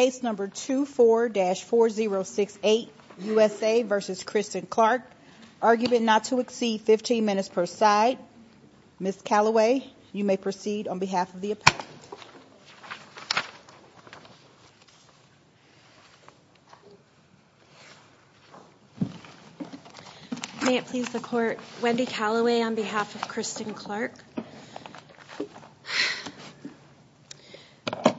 argument not to exceed 15 minutes per side. Ms. Calloway, you may proceed on behalf of the appellate. May it please the Court. Wendy Calloway on behalf of Christen Clark.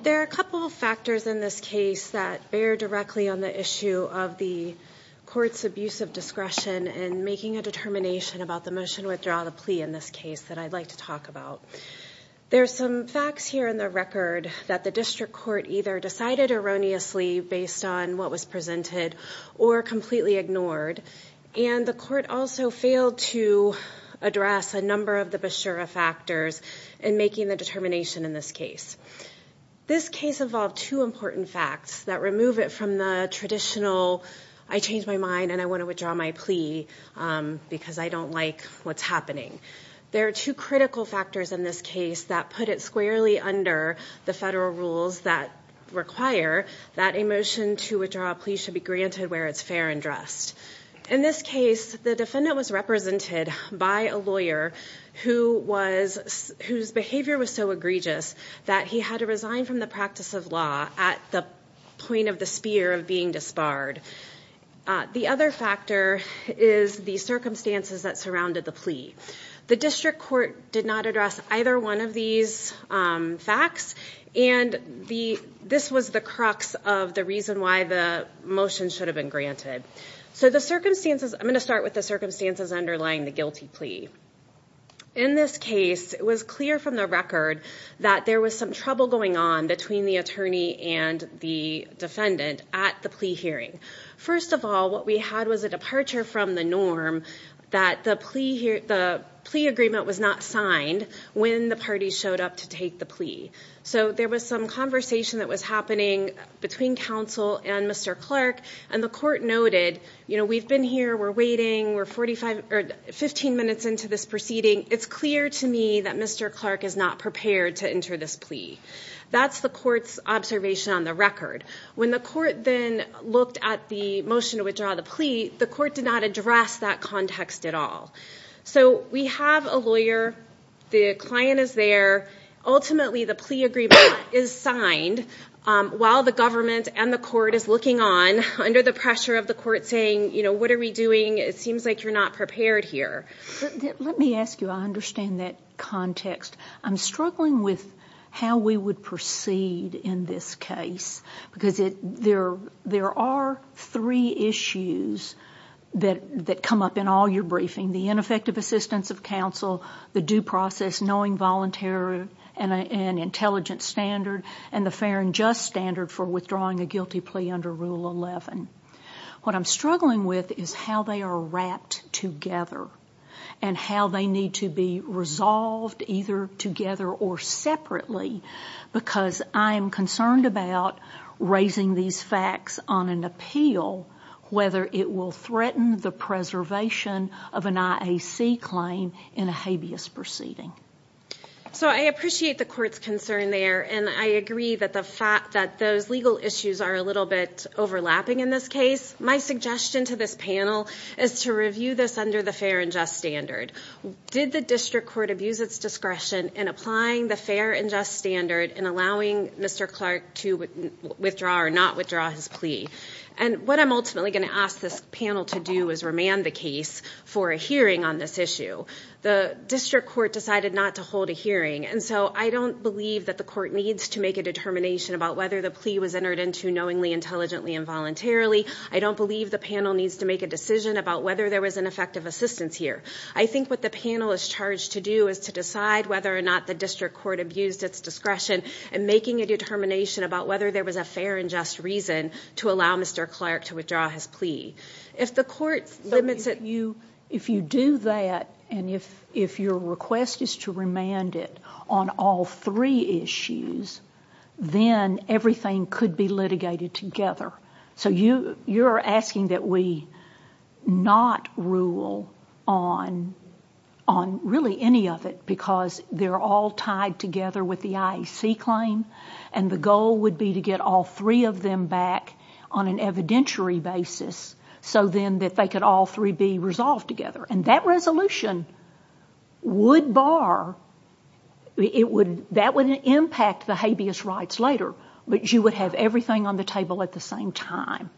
There are a couple of factors in this argument. In this case that bear directly on the issue of the court's abuse of discretion and making a determination about the motion to withdraw the plea in this case that I'd like to talk about. There's some facts here in the record that the district court either decided erroneously based on what was presented or completely ignored. And the court also failed to address a number of the Beshara factors in making the determination in this case. This case involved two important facts that remove it from the traditional, I changed my mind and I want to withdraw my plea because I don't like what's happening. There are two critical factors in this case that put it squarely under the federal rules that require that a motion to withdraw a plea should be granted where it's fair and dressed. In this case, the defendant was represented by a lawyer who was whose behavior was so egregious that he had to resign from the practice of law at the point of the spear of being disbarred. The other factor is the circumstances that surrounded the plea. The district court did not address either one of these facts and the this was the crux of the reason why the motion should have been granted. So the circumstances, I'm going to start with the circumstances underlying the guilty plea. In this case, it was clear from the record that there was some trouble going on between the attorney and the defendant at the plea hearing. First of all, what we had was a departure from the norm that the plea agreement was not signed when the party showed up to take the plea. So there was some conversation that was happening between counsel and Mr. Clark and the court noted, you know, we've been here, we're waiting, we're 45 or 15 minutes into this proceeding. It's clear to me that Mr. Clark is not prepared to enter this plea. That's the court's observation on the record. When the court then looked at the motion to withdraw the plea, the court did not address that context at all. So we have a lawyer, the client is there, ultimately the plea agreement is signed while the government and the court is looking on under the pressure of the court saying, you know, what are we doing? It seems like you're not prepared here. Let me ask you, I understand that context. I'm struggling with how we would proceed in this case because there are three issues that come up in all your briefing. The ineffective assistance of counsel, the due process, knowing volunteer and an intelligent standard, and the fair and just standard for withdrawing a guilty plea under Rule 11. What I'm struggling with is how they are wrapped together and how they need to be resolved either together or separately because I am concerned about raising these facts on an appeal, whether it will threaten the preservation of an IAC claim in a habeas proceeding. So I appreciate the court's concern there and I agree that the fact that those legal issues are a little bit overlapping in this case. My suggestion to this panel is to review this under the fair and just standard. Did the district court abuse its discretion in applying the fair and just standard in allowing Mr. Clark to withdraw or not withdraw his plea? And what I'm ultimately going to ask this panel to do is remand the case for a hearing on this issue. The district court decided not to hold a hearing and so I don't believe that the court needs to make a determination about whether the plea was entered into knowingly, intelligently, and voluntarily. I don't believe the panel needs to make a decision about whether there was an effective assistance here. I think what the panel is charged to do is to decide whether or not the district court abused its discretion in making a determination about whether there was a fair and just reason to allow Mr. Clark to withdraw his plea. If the court limits it to you, if you do that and if your request is to remand it on all three issues, then everything could be litigated together. So you're asking that we not rule on really any of it because they're all tied together with the IEC claim and the goal would be to get all three of them back on an evidentiary basis so then that they could all three be resolved together. And that resolution would bar, that would impact the habeas rights later but you would have everything on the table at the same time.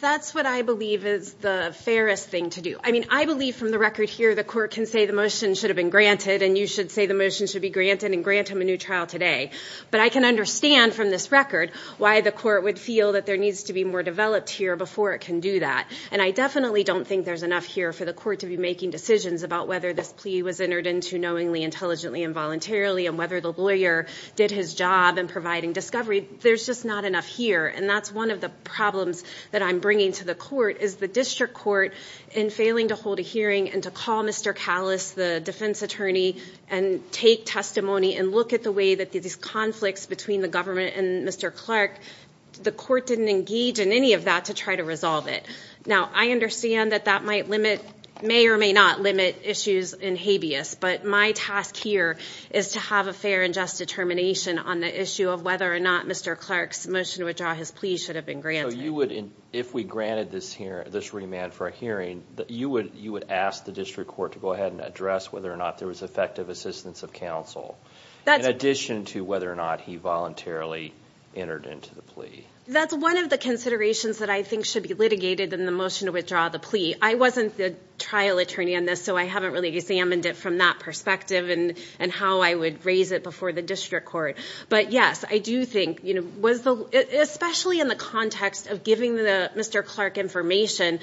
That's what I believe is the fairest thing to do. I mean I believe from the record here the court can say the motion should have been granted and you should say the motion should be granted and grant him a new trial today. But I can understand from this record why the court would feel that there needs to be more developed here before it can do that. And I definitely don't think there's enough here for the court to be making decisions about whether this plea was entered into knowingly, intelligently and voluntarily and whether the lawyer did his job in providing discovery. There's just not enough here and that's one of the problems that I'm bringing to the court is the district court in failing to hold a hearing and to call Mr. Callous, the defense attorney and take testimony and look at the way that these conflicts between the government and Mr. Clark, the court didn't engage in any of that to try to resolve it. Now I understand that that may or may not limit issues in habeas but my task here is to have a fair and just determination on the issue of whether or not Mr. Clark's motion to withdraw his plea should have been granted. So you would, if we granted this remand for a hearing, you would ask the district court to go ahead and address whether or not there was effective assistance of counsel in addition to whether or not he voluntarily entered into the plea. That's one of the considerations that I think should be litigated in the motion to withdraw the plea. I wasn't the trial attorney on this so I haven't really examined it from that perspective and how I would raise it before the district court. But yes, I do think, especially in the context of giving Mr. Clark information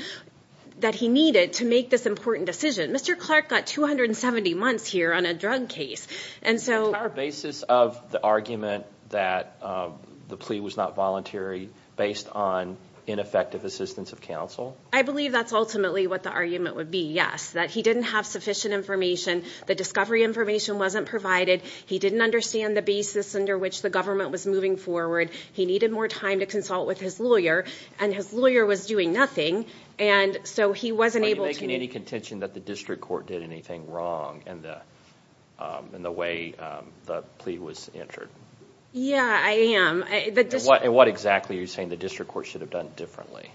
that he needed to make this important decision, Mr. Clark got 270 months here on a drug case. The entire basis of the argument that the plea was not voluntary based on ineffective assistance of counsel? I believe that's ultimately what the argument would be, yes, that he didn't have sufficient information, the discovery information wasn't provided, he didn't understand the basis under which the government was moving forward, he needed more time to consult with his lawyer and his lawyer was doing nothing and so he wasn't able to... Are you making any contention that the district court did anything wrong in the way the plea was entered? Yeah, I am. What exactly are you saying the district court should have done differently?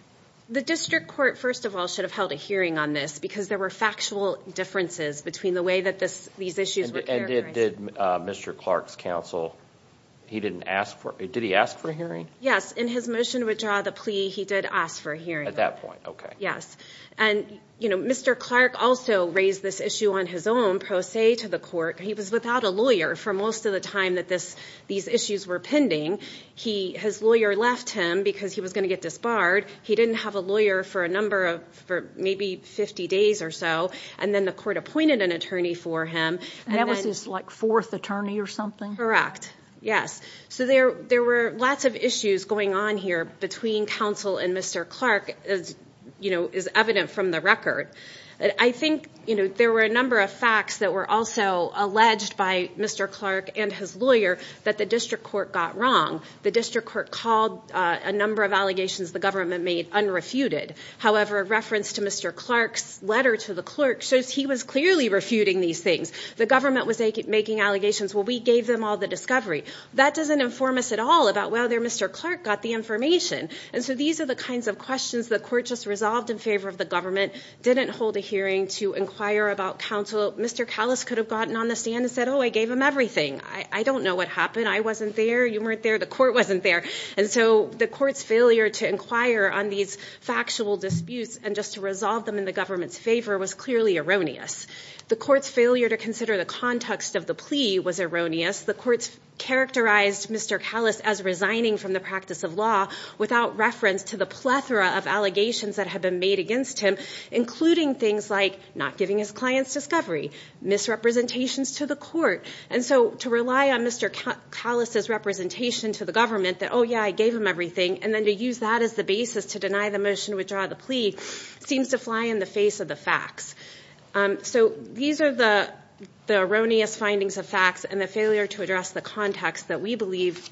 The district court, first of all, should have held a hearing on this because there were factual differences between the way that these issues were characterized. And did Mr. Clark's counsel, did he ask for a hearing? Yes, in his motion to withdraw the plea, he did ask for a hearing. At that point, okay. Yes, and Mr. Clark also raised this issue on his own pro se to the court. He was without a lawyer for most of the time that these issues were pending. His lawyer left him because he was going to get disbarred. He didn't have a lawyer for a number of, maybe 50 days or so, and then the court appointed an attorney for him. And that was his, like, fourth attorney or something? Correct, yes. So there were lots of issues going on here between counsel and Mr. Clark, you know, is evident from the record. I think, you know, there were a number of facts that were also alleged by Mr. Clark and his lawyer that the district court got wrong. The district court called a number of allegations the government made unrefuted. However, a reference to Mr. Clark's letter to the clerk shows he was clearly refuting these things. The government was making allegations. Well, we gave them all the discovery. That doesn't inform us at all about whether Mr. Clark got the information. And so these are the kinds of questions the court just resolved in favor of the government, didn't hold a hearing to inquire about counsel. Mr. Callis could have gotten on the stand and said, oh, I gave him everything. I don't know what happened. I wasn't there. You weren't there. The court wasn't there. And so the court's failure to inquire on these factual disputes and just to resolve them in the government's favor was clearly erroneous. The court's failure to consider the context of the plea was erroneous. The court characterized Mr. Callis as resigning from the practice of law without reference to the plethora of allegations that had been made against him, including things like not giving his clients discovery, misrepresentations to the court. And so to rely on Mr. Callis's representation to the government that, oh, yeah, I gave him everything, and then to use that as the basis to deny the motion to withdraw the plea seems to fly in the face of the facts. So these are the erroneous findings of facts and the failure to address the context that we believe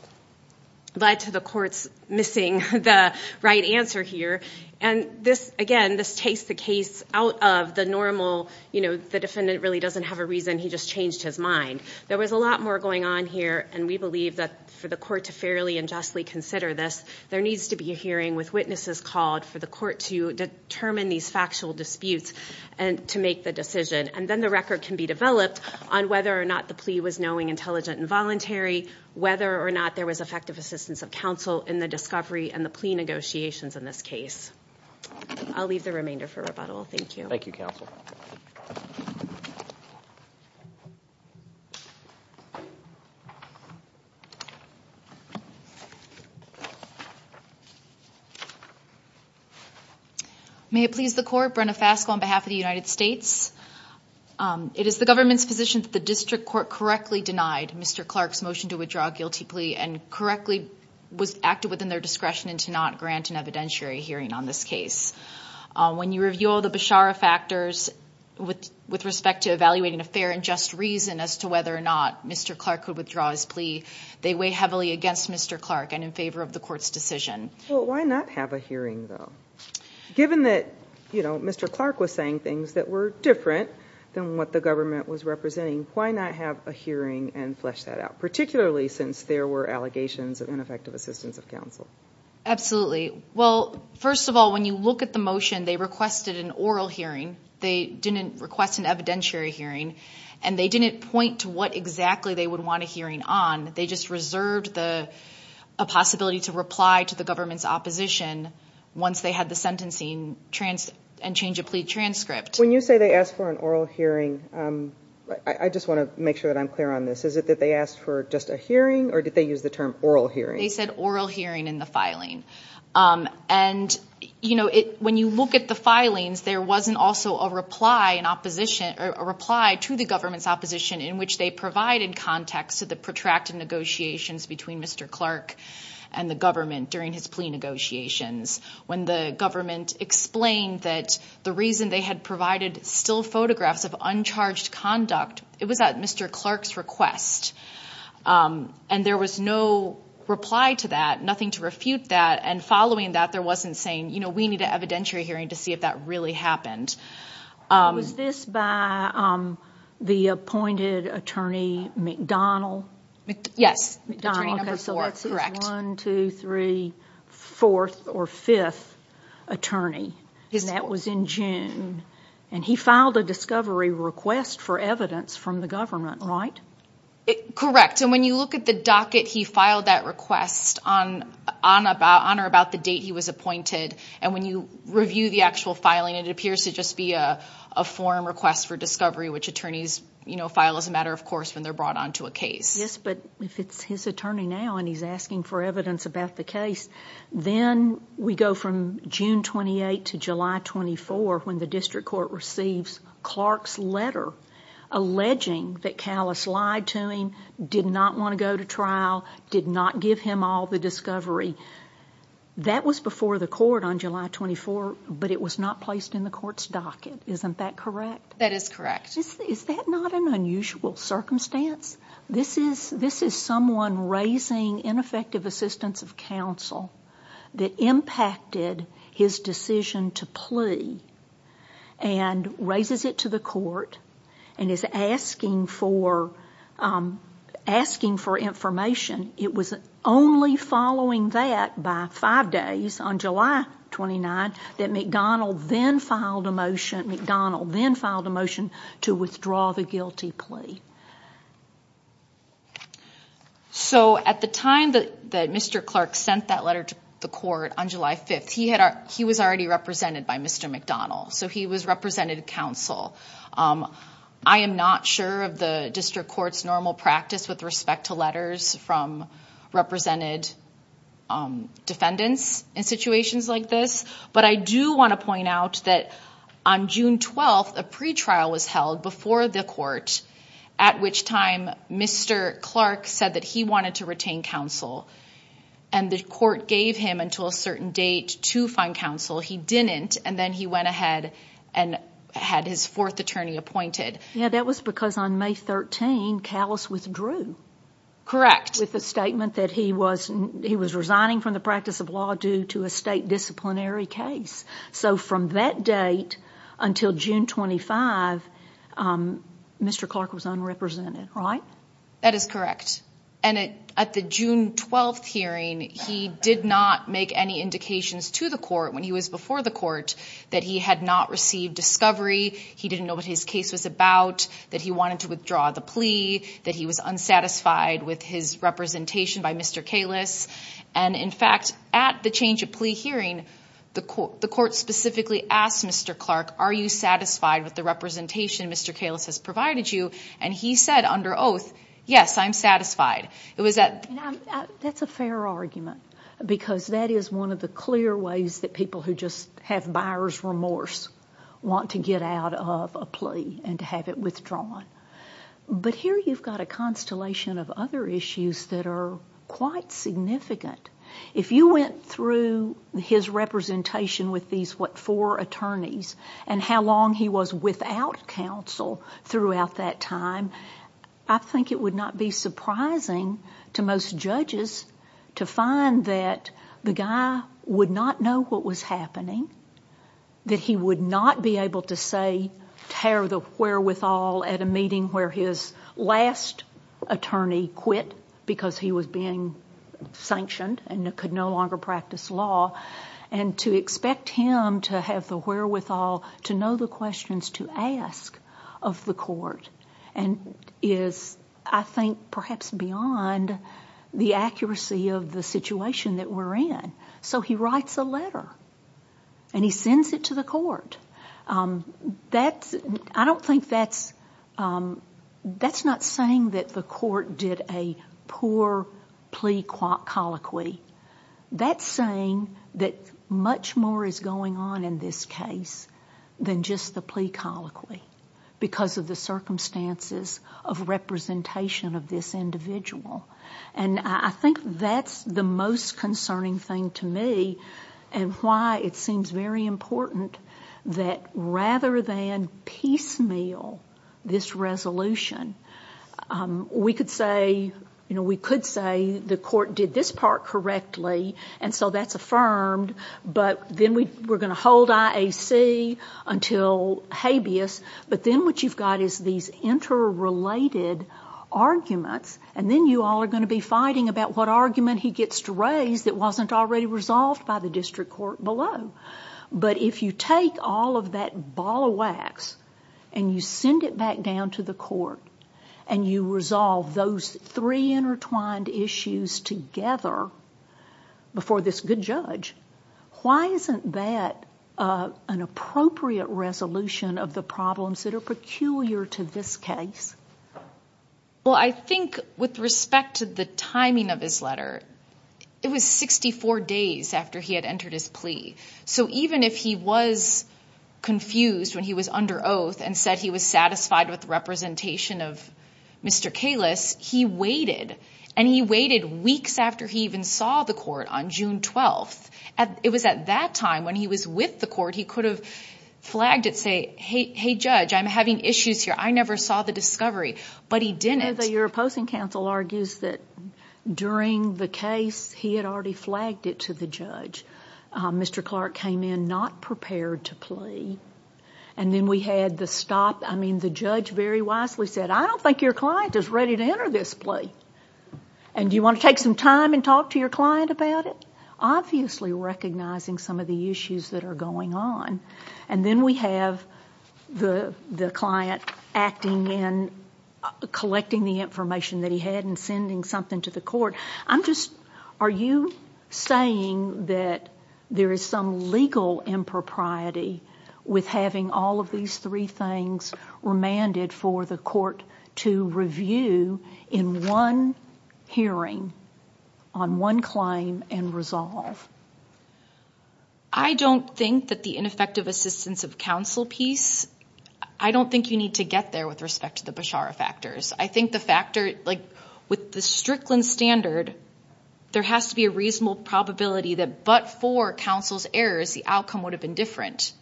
led to the court's missing the right answer here. And this, again, this takes the case out of the normal, you know, the defendant really doesn't have a reason. He just changed his mind. There was a lot more going on here. And we believe that for the court to fairly and justly consider this, there needs to be a hearing with witnesses called for the court to determine these factual disputes and to make the decision. And then the record can be developed on whether or not the plea was knowing, intelligent, and voluntary, whether or not there was effective assistance of counsel in the discovery and the plea negotiations in this case. I'll leave the remainder for rebuttal. Thank you. Thank you, counsel. May it please the court, Brenna Faskell on behalf of the United States. It is the government's position that the district court correctly denied Mr. Clark's motion to withdraw a guilty plea and correctly was acted within their discretion and to not grant an evidentiary hearing on this case. When you review all the Beshara factors with respect to evaluating a fair and just reason as to whether or not Mr. Clark could withdraw his plea, they weigh heavily against Mr. Clark and in favor of the court's decision. Well, why not have a hearing, though? Given that, you know, Mr. Clark was saying things that were different than what the government was representing, why not have a hearing and flesh that out, particularly since there were allegations of ineffective assistance of counsel? Absolutely. Well, first of all, when you look at the motion, they requested an oral hearing. They didn't request an evidentiary hearing, and they didn't point to what exactly they would want a hearing on. They just reserved a possibility to reply to the government's opposition once they had the sentencing and change of plea transcript. When you say they asked for an oral hearing, I just want to make sure that I'm clear on this. Is it that they asked for just a hearing or did they use the term oral hearing? They said oral hearing in the filing. And, you know, when you look at the filings, there wasn't also a reply to the government's opposition in which they provided context to the protracted negotiations between Mr. Clark and the government during his plea negotiations. When the government explained that the reason they had provided still photographs of uncharged conduct, it was at Mr. Clark's request, and there was no reply to that, nothing to refute that. And following that, there wasn't saying, you know, we need an evidentiary hearing to see if that really happened. Was this by the appointed attorney McDonald? Yes, attorney number four, correct. One, two, three, fourth or fifth attorney, and that was in June. And he filed a discovery request for evidence from the government, right? Correct. And when you look at the docket, he filed that request on or about the date he was appointed. And when you review the actual filing, it appears to just be a form request for discovery, which attorneys, you know, file as a matter of course when they're brought on to a case. Yes, but if it's his attorney now and he's asking for evidence about the case, then we go from June 28 to July 24 when the district court receives Clark's letter alleging that Callis lied to him, did not want to go to trial, did not give him all the discovery. That was before the court on July 24, but it was not placed in the court's docket. Isn't that correct? That is correct. Is that not an unusual circumstance? This is someone raising ineffective assistance of counsel that impacted his decision to plea and raises it to the court and is asking for information. It was only following that by five days on July 29 that McDonnell then filed a motion to withdraw the guilty plea. So at the time that Mr. Clark sent that letter to the court on July 5th, he was already represented by Mr. McDonnell. So he was representative counsel. I am not sure of the district court's normal practice with respect to letters from represented defendants in situations like this, but I do want to point out that on June 12th, a pretrial was held before the court, at which time Mr. Clark said that he wanted to retain counsel. And the court gave him until a certain date to find counsel. He didn't, and then he went ahead and had his fourth attorney appointed. Yeah, that was because on May 13, Callis withdrew. With the statement that he was resigning from the practice of law due to a state disciplinary case. So from that date until June 25, Mr. Clark was unrepresented, right? That is correct. And at the June 12th hearing, he did not make any indications to the court when he was before the court that he had not received discovery. He didn't know what his case was about, that he wanted to withdraw the plea, that he was unsatisfied with his representation by Mr. Callis. And in fact, at the change of plea hearing, the court specifically asked Mr. Clark, are you satisfied with the representation Mr. Callis has provided you? And he said under oath, yes, I'm satisfied. That's a fair argument, because that is one of the clear ways that people who just have buyer's remorse want to get out of a plea and to have it withdrawn. But here you've got a constellation of other issues that are quite significant. If you went through his representation with these, what, four attorneys, and how long he was without counsel throughout that time, I think it would not be surprising to most judges to find that the guy would not know what was happening, that he would not be able to say, tear the wherewithal at a meeting where his last attorney quit because he was being sanctioned and could no longer practice law, and to expect him to have the wherewithal to know the questions to ask of the court is, I think, perhaps beyond the accuracy of the situation that we're in. So he writes a letter, and he sends it to the court. That's, I don't think that's, that's not saying that the court did a poor plea colloquy. That's saying that much more is going on in this case than just the plea colloquy, because of the circumstances of representation of this individual. And I think that's the most concerning thing to me, and why it seems very important that rather than piecemeal this resolution, we could say, you know, we could say the court did this part correctly, and so that's affirmed, but then we're going to hold IAC until habeas, but then what you've got is these interrelated arguments, and then you all are going to be fighting about what argument he gets to raise that wasn't already resolved by the district court below. But if you take all of that ball of wax, and you send it back down to the court, and you resolve those three intertwined issues together before this good judge, why isn't that an appropriate resolution of the problems that are peculiar to this case? Well, I think with respect to the timing of his letter, it was 64 days after he had entered his plea. So even if he was confused when he was under oath and said he was satisfied with the representation of Mr. Kalis, he waited, and he waited weeks after he even saw the court on June 12th. It was at that time when he was with the court, he could have flagged it, say, hey, judge, I'm having issues here. I never saw the discovery, but he didn't. Your opposing counsel argues that during the case he had already flagged it to the judge. Mr. Clark came in not prepared to plea, and then we had the stop. I mean, the judge very wisely said, I don't think your client is ready to enter this plea, and do you want to take some time and talk to your client about it, obviously recognizing some of the issues that are going on. And then we have the client acting in collecting the information that he had and sending something to the court. I'm just, are you saying that there is some legal impropriety with having all of these three things remanded for the court to review in one hearing on one claim and resolve? I don't think that the ineffective assistance of counsel piece, I don't think you need to get there with respect to the Beshara factors. I think the factor, like, with the Strickland standard, there has to be a reasonable probability that but for counsel's errors, the outcome would have been different.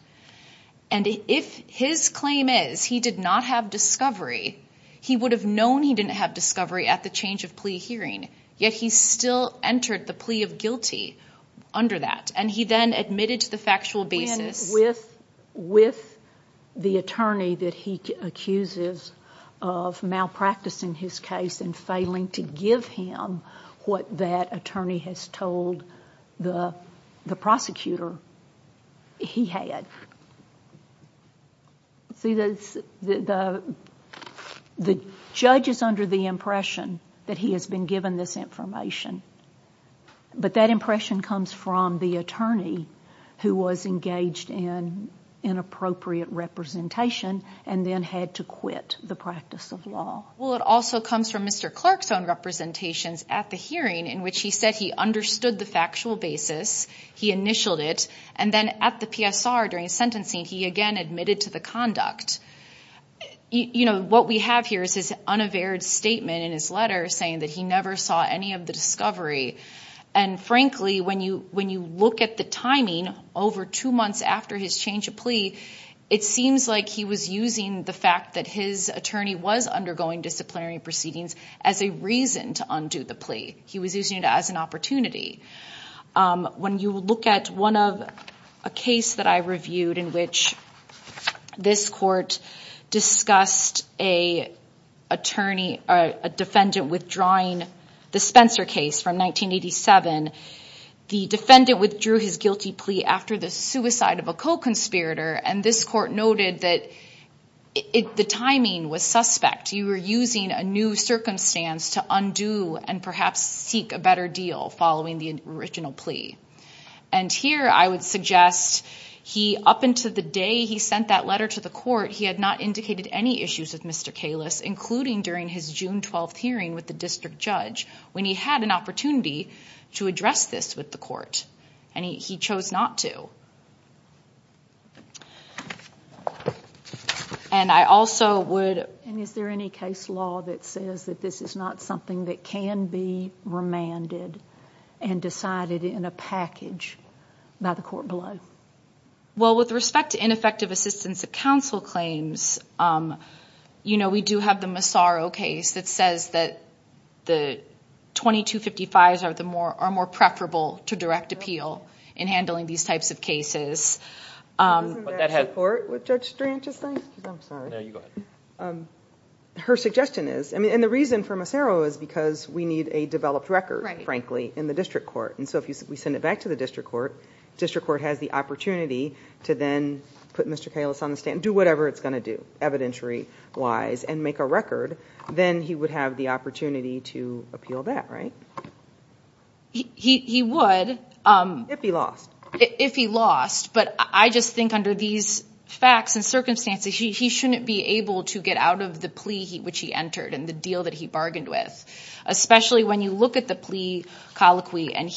And if his claim is he did not have discovery, he would have known he didn't have discovery at the change of plea hearing, yet he still entered the plea of guilty under that. And he then admitted to the factual basis. With the attorney that he accuses of malpracticing his case and failing to give him what that attorney has told the prosecutor, he had. See, the judge is under the impression that he has been given this information. But that impression comes from the attorney who was engaged in inappropriate representation and then had to quit the practice of law. Well, it also comes from Mr. Clark's own representations at the hearing in which he said he understood the factual basis, he initialed it, and then at the PSR during sentencing, he again admitted to the conduct. You know, what we have here is his unaverred statement in his letter saying that he never saw any of the discovery. And frankly, when you look at the timing over two months after his change of plea, it seems like he was using the fact that his attorney was undergoing disciplinary proceedings as a reason to undo the plea. He was using it as an opportunity. When you look at a case that I reviewed in which this court discussed a defendant withdrawing the Spencer case from 1987, the defendant withdrew his guilty plea after the suicide of a co-conspirator, and this court noted that the timing was suspect. You were using a new circumstance to undo and perhaps seek a better deal following the original plea. And here I would suggest he, up until the day he sent that letter to the court, he had not indicated any issues with Mr. Kalis, including during his June 12th hearing with the district judge, when he had an opportunity to address this with the court, and he chose not to. And I also would... And is there any case law that says that this is not something that can be remanded and decided in a package by the court below? Well, with respect to ineffective assistance of counsel claims, you know, we do have the Massaro case that says that the 2255s are more preferable to direct appeal in handling these types of cases. Would that have support with Judge Stranch's thing? I'm sorry. No, you go ahead. Her suggestion is... And the reason for Massaro is because we need a developed record, frankly, in the district court. And so if we send it back to the district court, district court has the opportunity to then put Mr. Kalis on the stand, do whatever it's going to do, evidentiary-wise, and make a record. Then he would have the opportunity to appeal that, right? He would. If he lost. If he lost. But I just think under these facts and circumstances, he shouldn't be able to get out of the plea which he entered and the deal that he bargained with. Especially when you look at the plea colloquy, and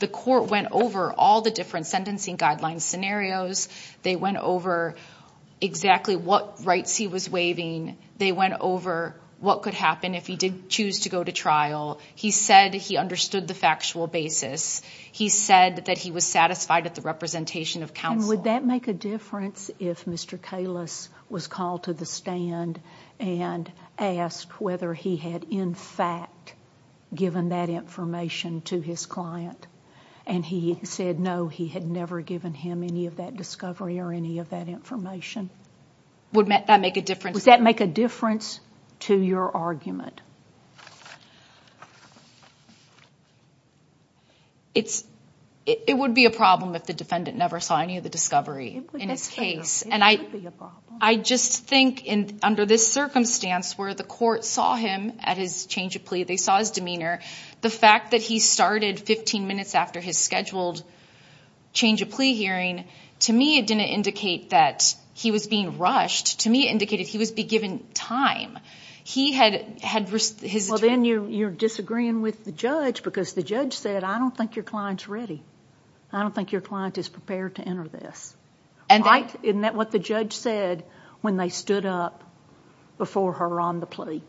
the court went over all the different sentencing guidelines scenarios. They went over exactly what rights he was waiving. They went over what could happen if he did choose to go to trial. He said he understood the factual basis. He said that he was satisfied at the representation of counsel. And would that make a difference if Mr. Kalis was called to the stand and asked whether he had in fact given that information to his client, and he said no, he had never given him any of that discovery or any of that information? Would that make a difference? Would that make a difference to your argument? It would be a problem if the defendant never saw any of the discovery in his case. It would be a problem. I just think under this circumstance where the court saw him at his change of plea, they saw his demeanor, the fact that he started 15 minutes after his scheduled change of plea hearing, to me it didn't indicate that he was being rushed. To me it indicated he was being given time. Well, then you're disagreeing with the judge because the judge said, I don't think your client's ready. I don't think your client is prepared to enter this. Isn't that what the judge said when they stood up before her on the plea?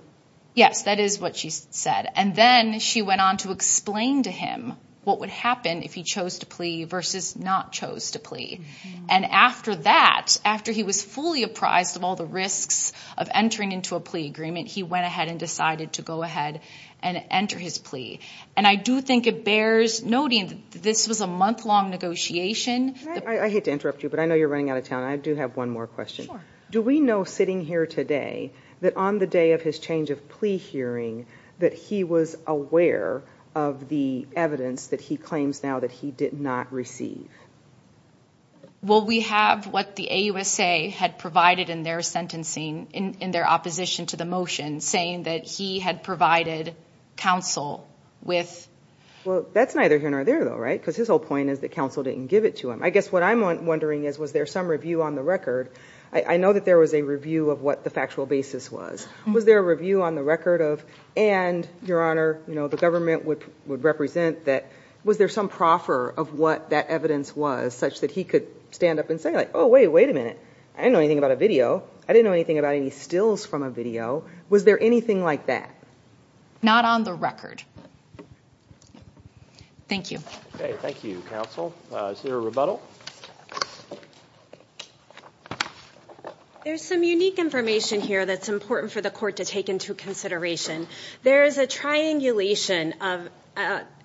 Yes, that is what she said. And then she went on to explain to him what would happen if he chose to plea versus not chose to plea. And after that, after he was fully apprised of all the risks of entering into a plea agreement, he went ahead and decided to go ahead and enter his plea. And I do think it bears noting that this was a month-long negotiation. I hate to interrupt you, but I know you're running out of time. I do have one more question. Sure. Do we know sitting here today that on the day of his change of plea hearing that he was aware of the evidence that he claims now that he did not receive? Well, we have what the AUSA had provided in their sentencing, in their opposition to the motion, saying that he had provided counsel with. Well, that's neither here nor there, though, right? Because his whole point is that counsel didn't give it to him. I guess what I'm wondering is, was there some review on the record? I know that there was a review of what the factual basis was. Was there a review on the record of, and, Your Honor, the government would represent that, was there some proffer of what that evidence was such that he could stand up and say, oh, wait a minute, I didn't know anything about a video. I didn't know anything about any stills from a video. Was there anything like that? Not on the record. Thank you. Okay. Thank you, counsel. Is there a rebuttal? There's some unique information here that's important for the court to take into consideration. There is a triangulation of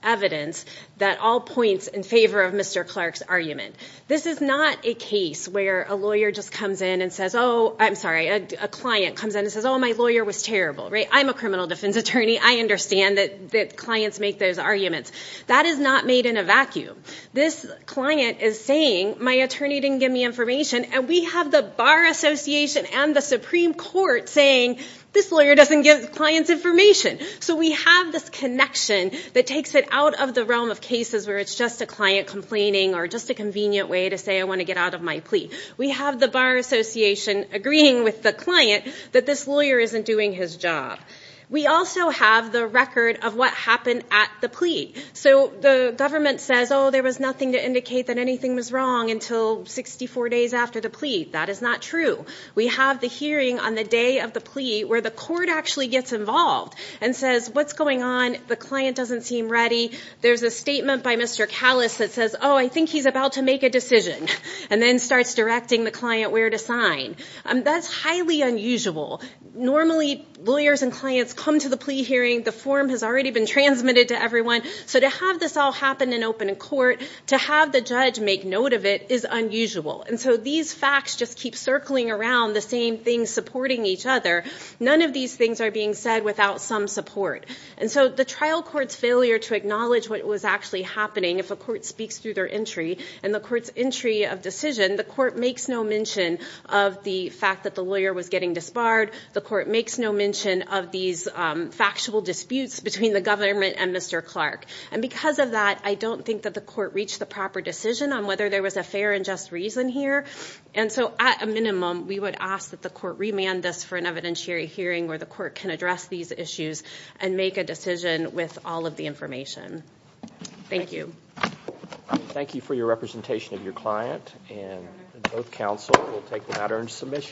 evidence that all points in favor of Mr. Clark's argument. This is not a case where a lawyer just comes in and says, oh, I'm sorry, a client comes in and says, oh, my lawyer was terrible, right? I'm a criminal defense attorney. I understand that clients make those arguments. That is not made in a vacuum. This client is saying my attorney didn't give me information, and we have the Bar Association and the Supreme Court saying this lawyer doesn't give clients information. So we have this connection that takes it out of the realm of cases where it's just a client complaining or just a convenient way to say I want to get out of my plea. We have the Bar Association agreeing with the client that this lawyer isn't doing his job. We also have the record of what happened at the plea. So the government says, oh, there was nothing to indicate that anything was wrong until 64 days after the plea. That is not true. We have the hearing on the day of the plea where the court actually gets involved and says, what's going on? The client doesn't seem ready. There's a statement by Mr. Kallis that says, oh, I think he's about to make a decision, and then starts directing the client where to sign. That's highly unusual. Normally, lawyers and clients come to the plea hearing. The form has already been transmitted to everyone. So to have this all happen in open court, to have the judge make note of it, is unusual. And so these facts just keep circling around, the same things supporting each other. None of these things are being said without some support. And so the trial court's failure to acknowledge what was actually happening, if a court speaks through their entry and the court's entry of decision, the court makes no mention of the fact that the lawyer was getting disbarred. The court makes no mention of these factual disputes between the government and Mr. Clark. And because of that, I don't think that the court reached the proper decision on whether there was a fair and just reason here. And so at a minimum, we would ask that the court remand this for an evidentiary hearing where the court can address these issues and make a decision with all of the information. Thank you. Thank you for your representation of your client. And both counsel will take the latter in submission.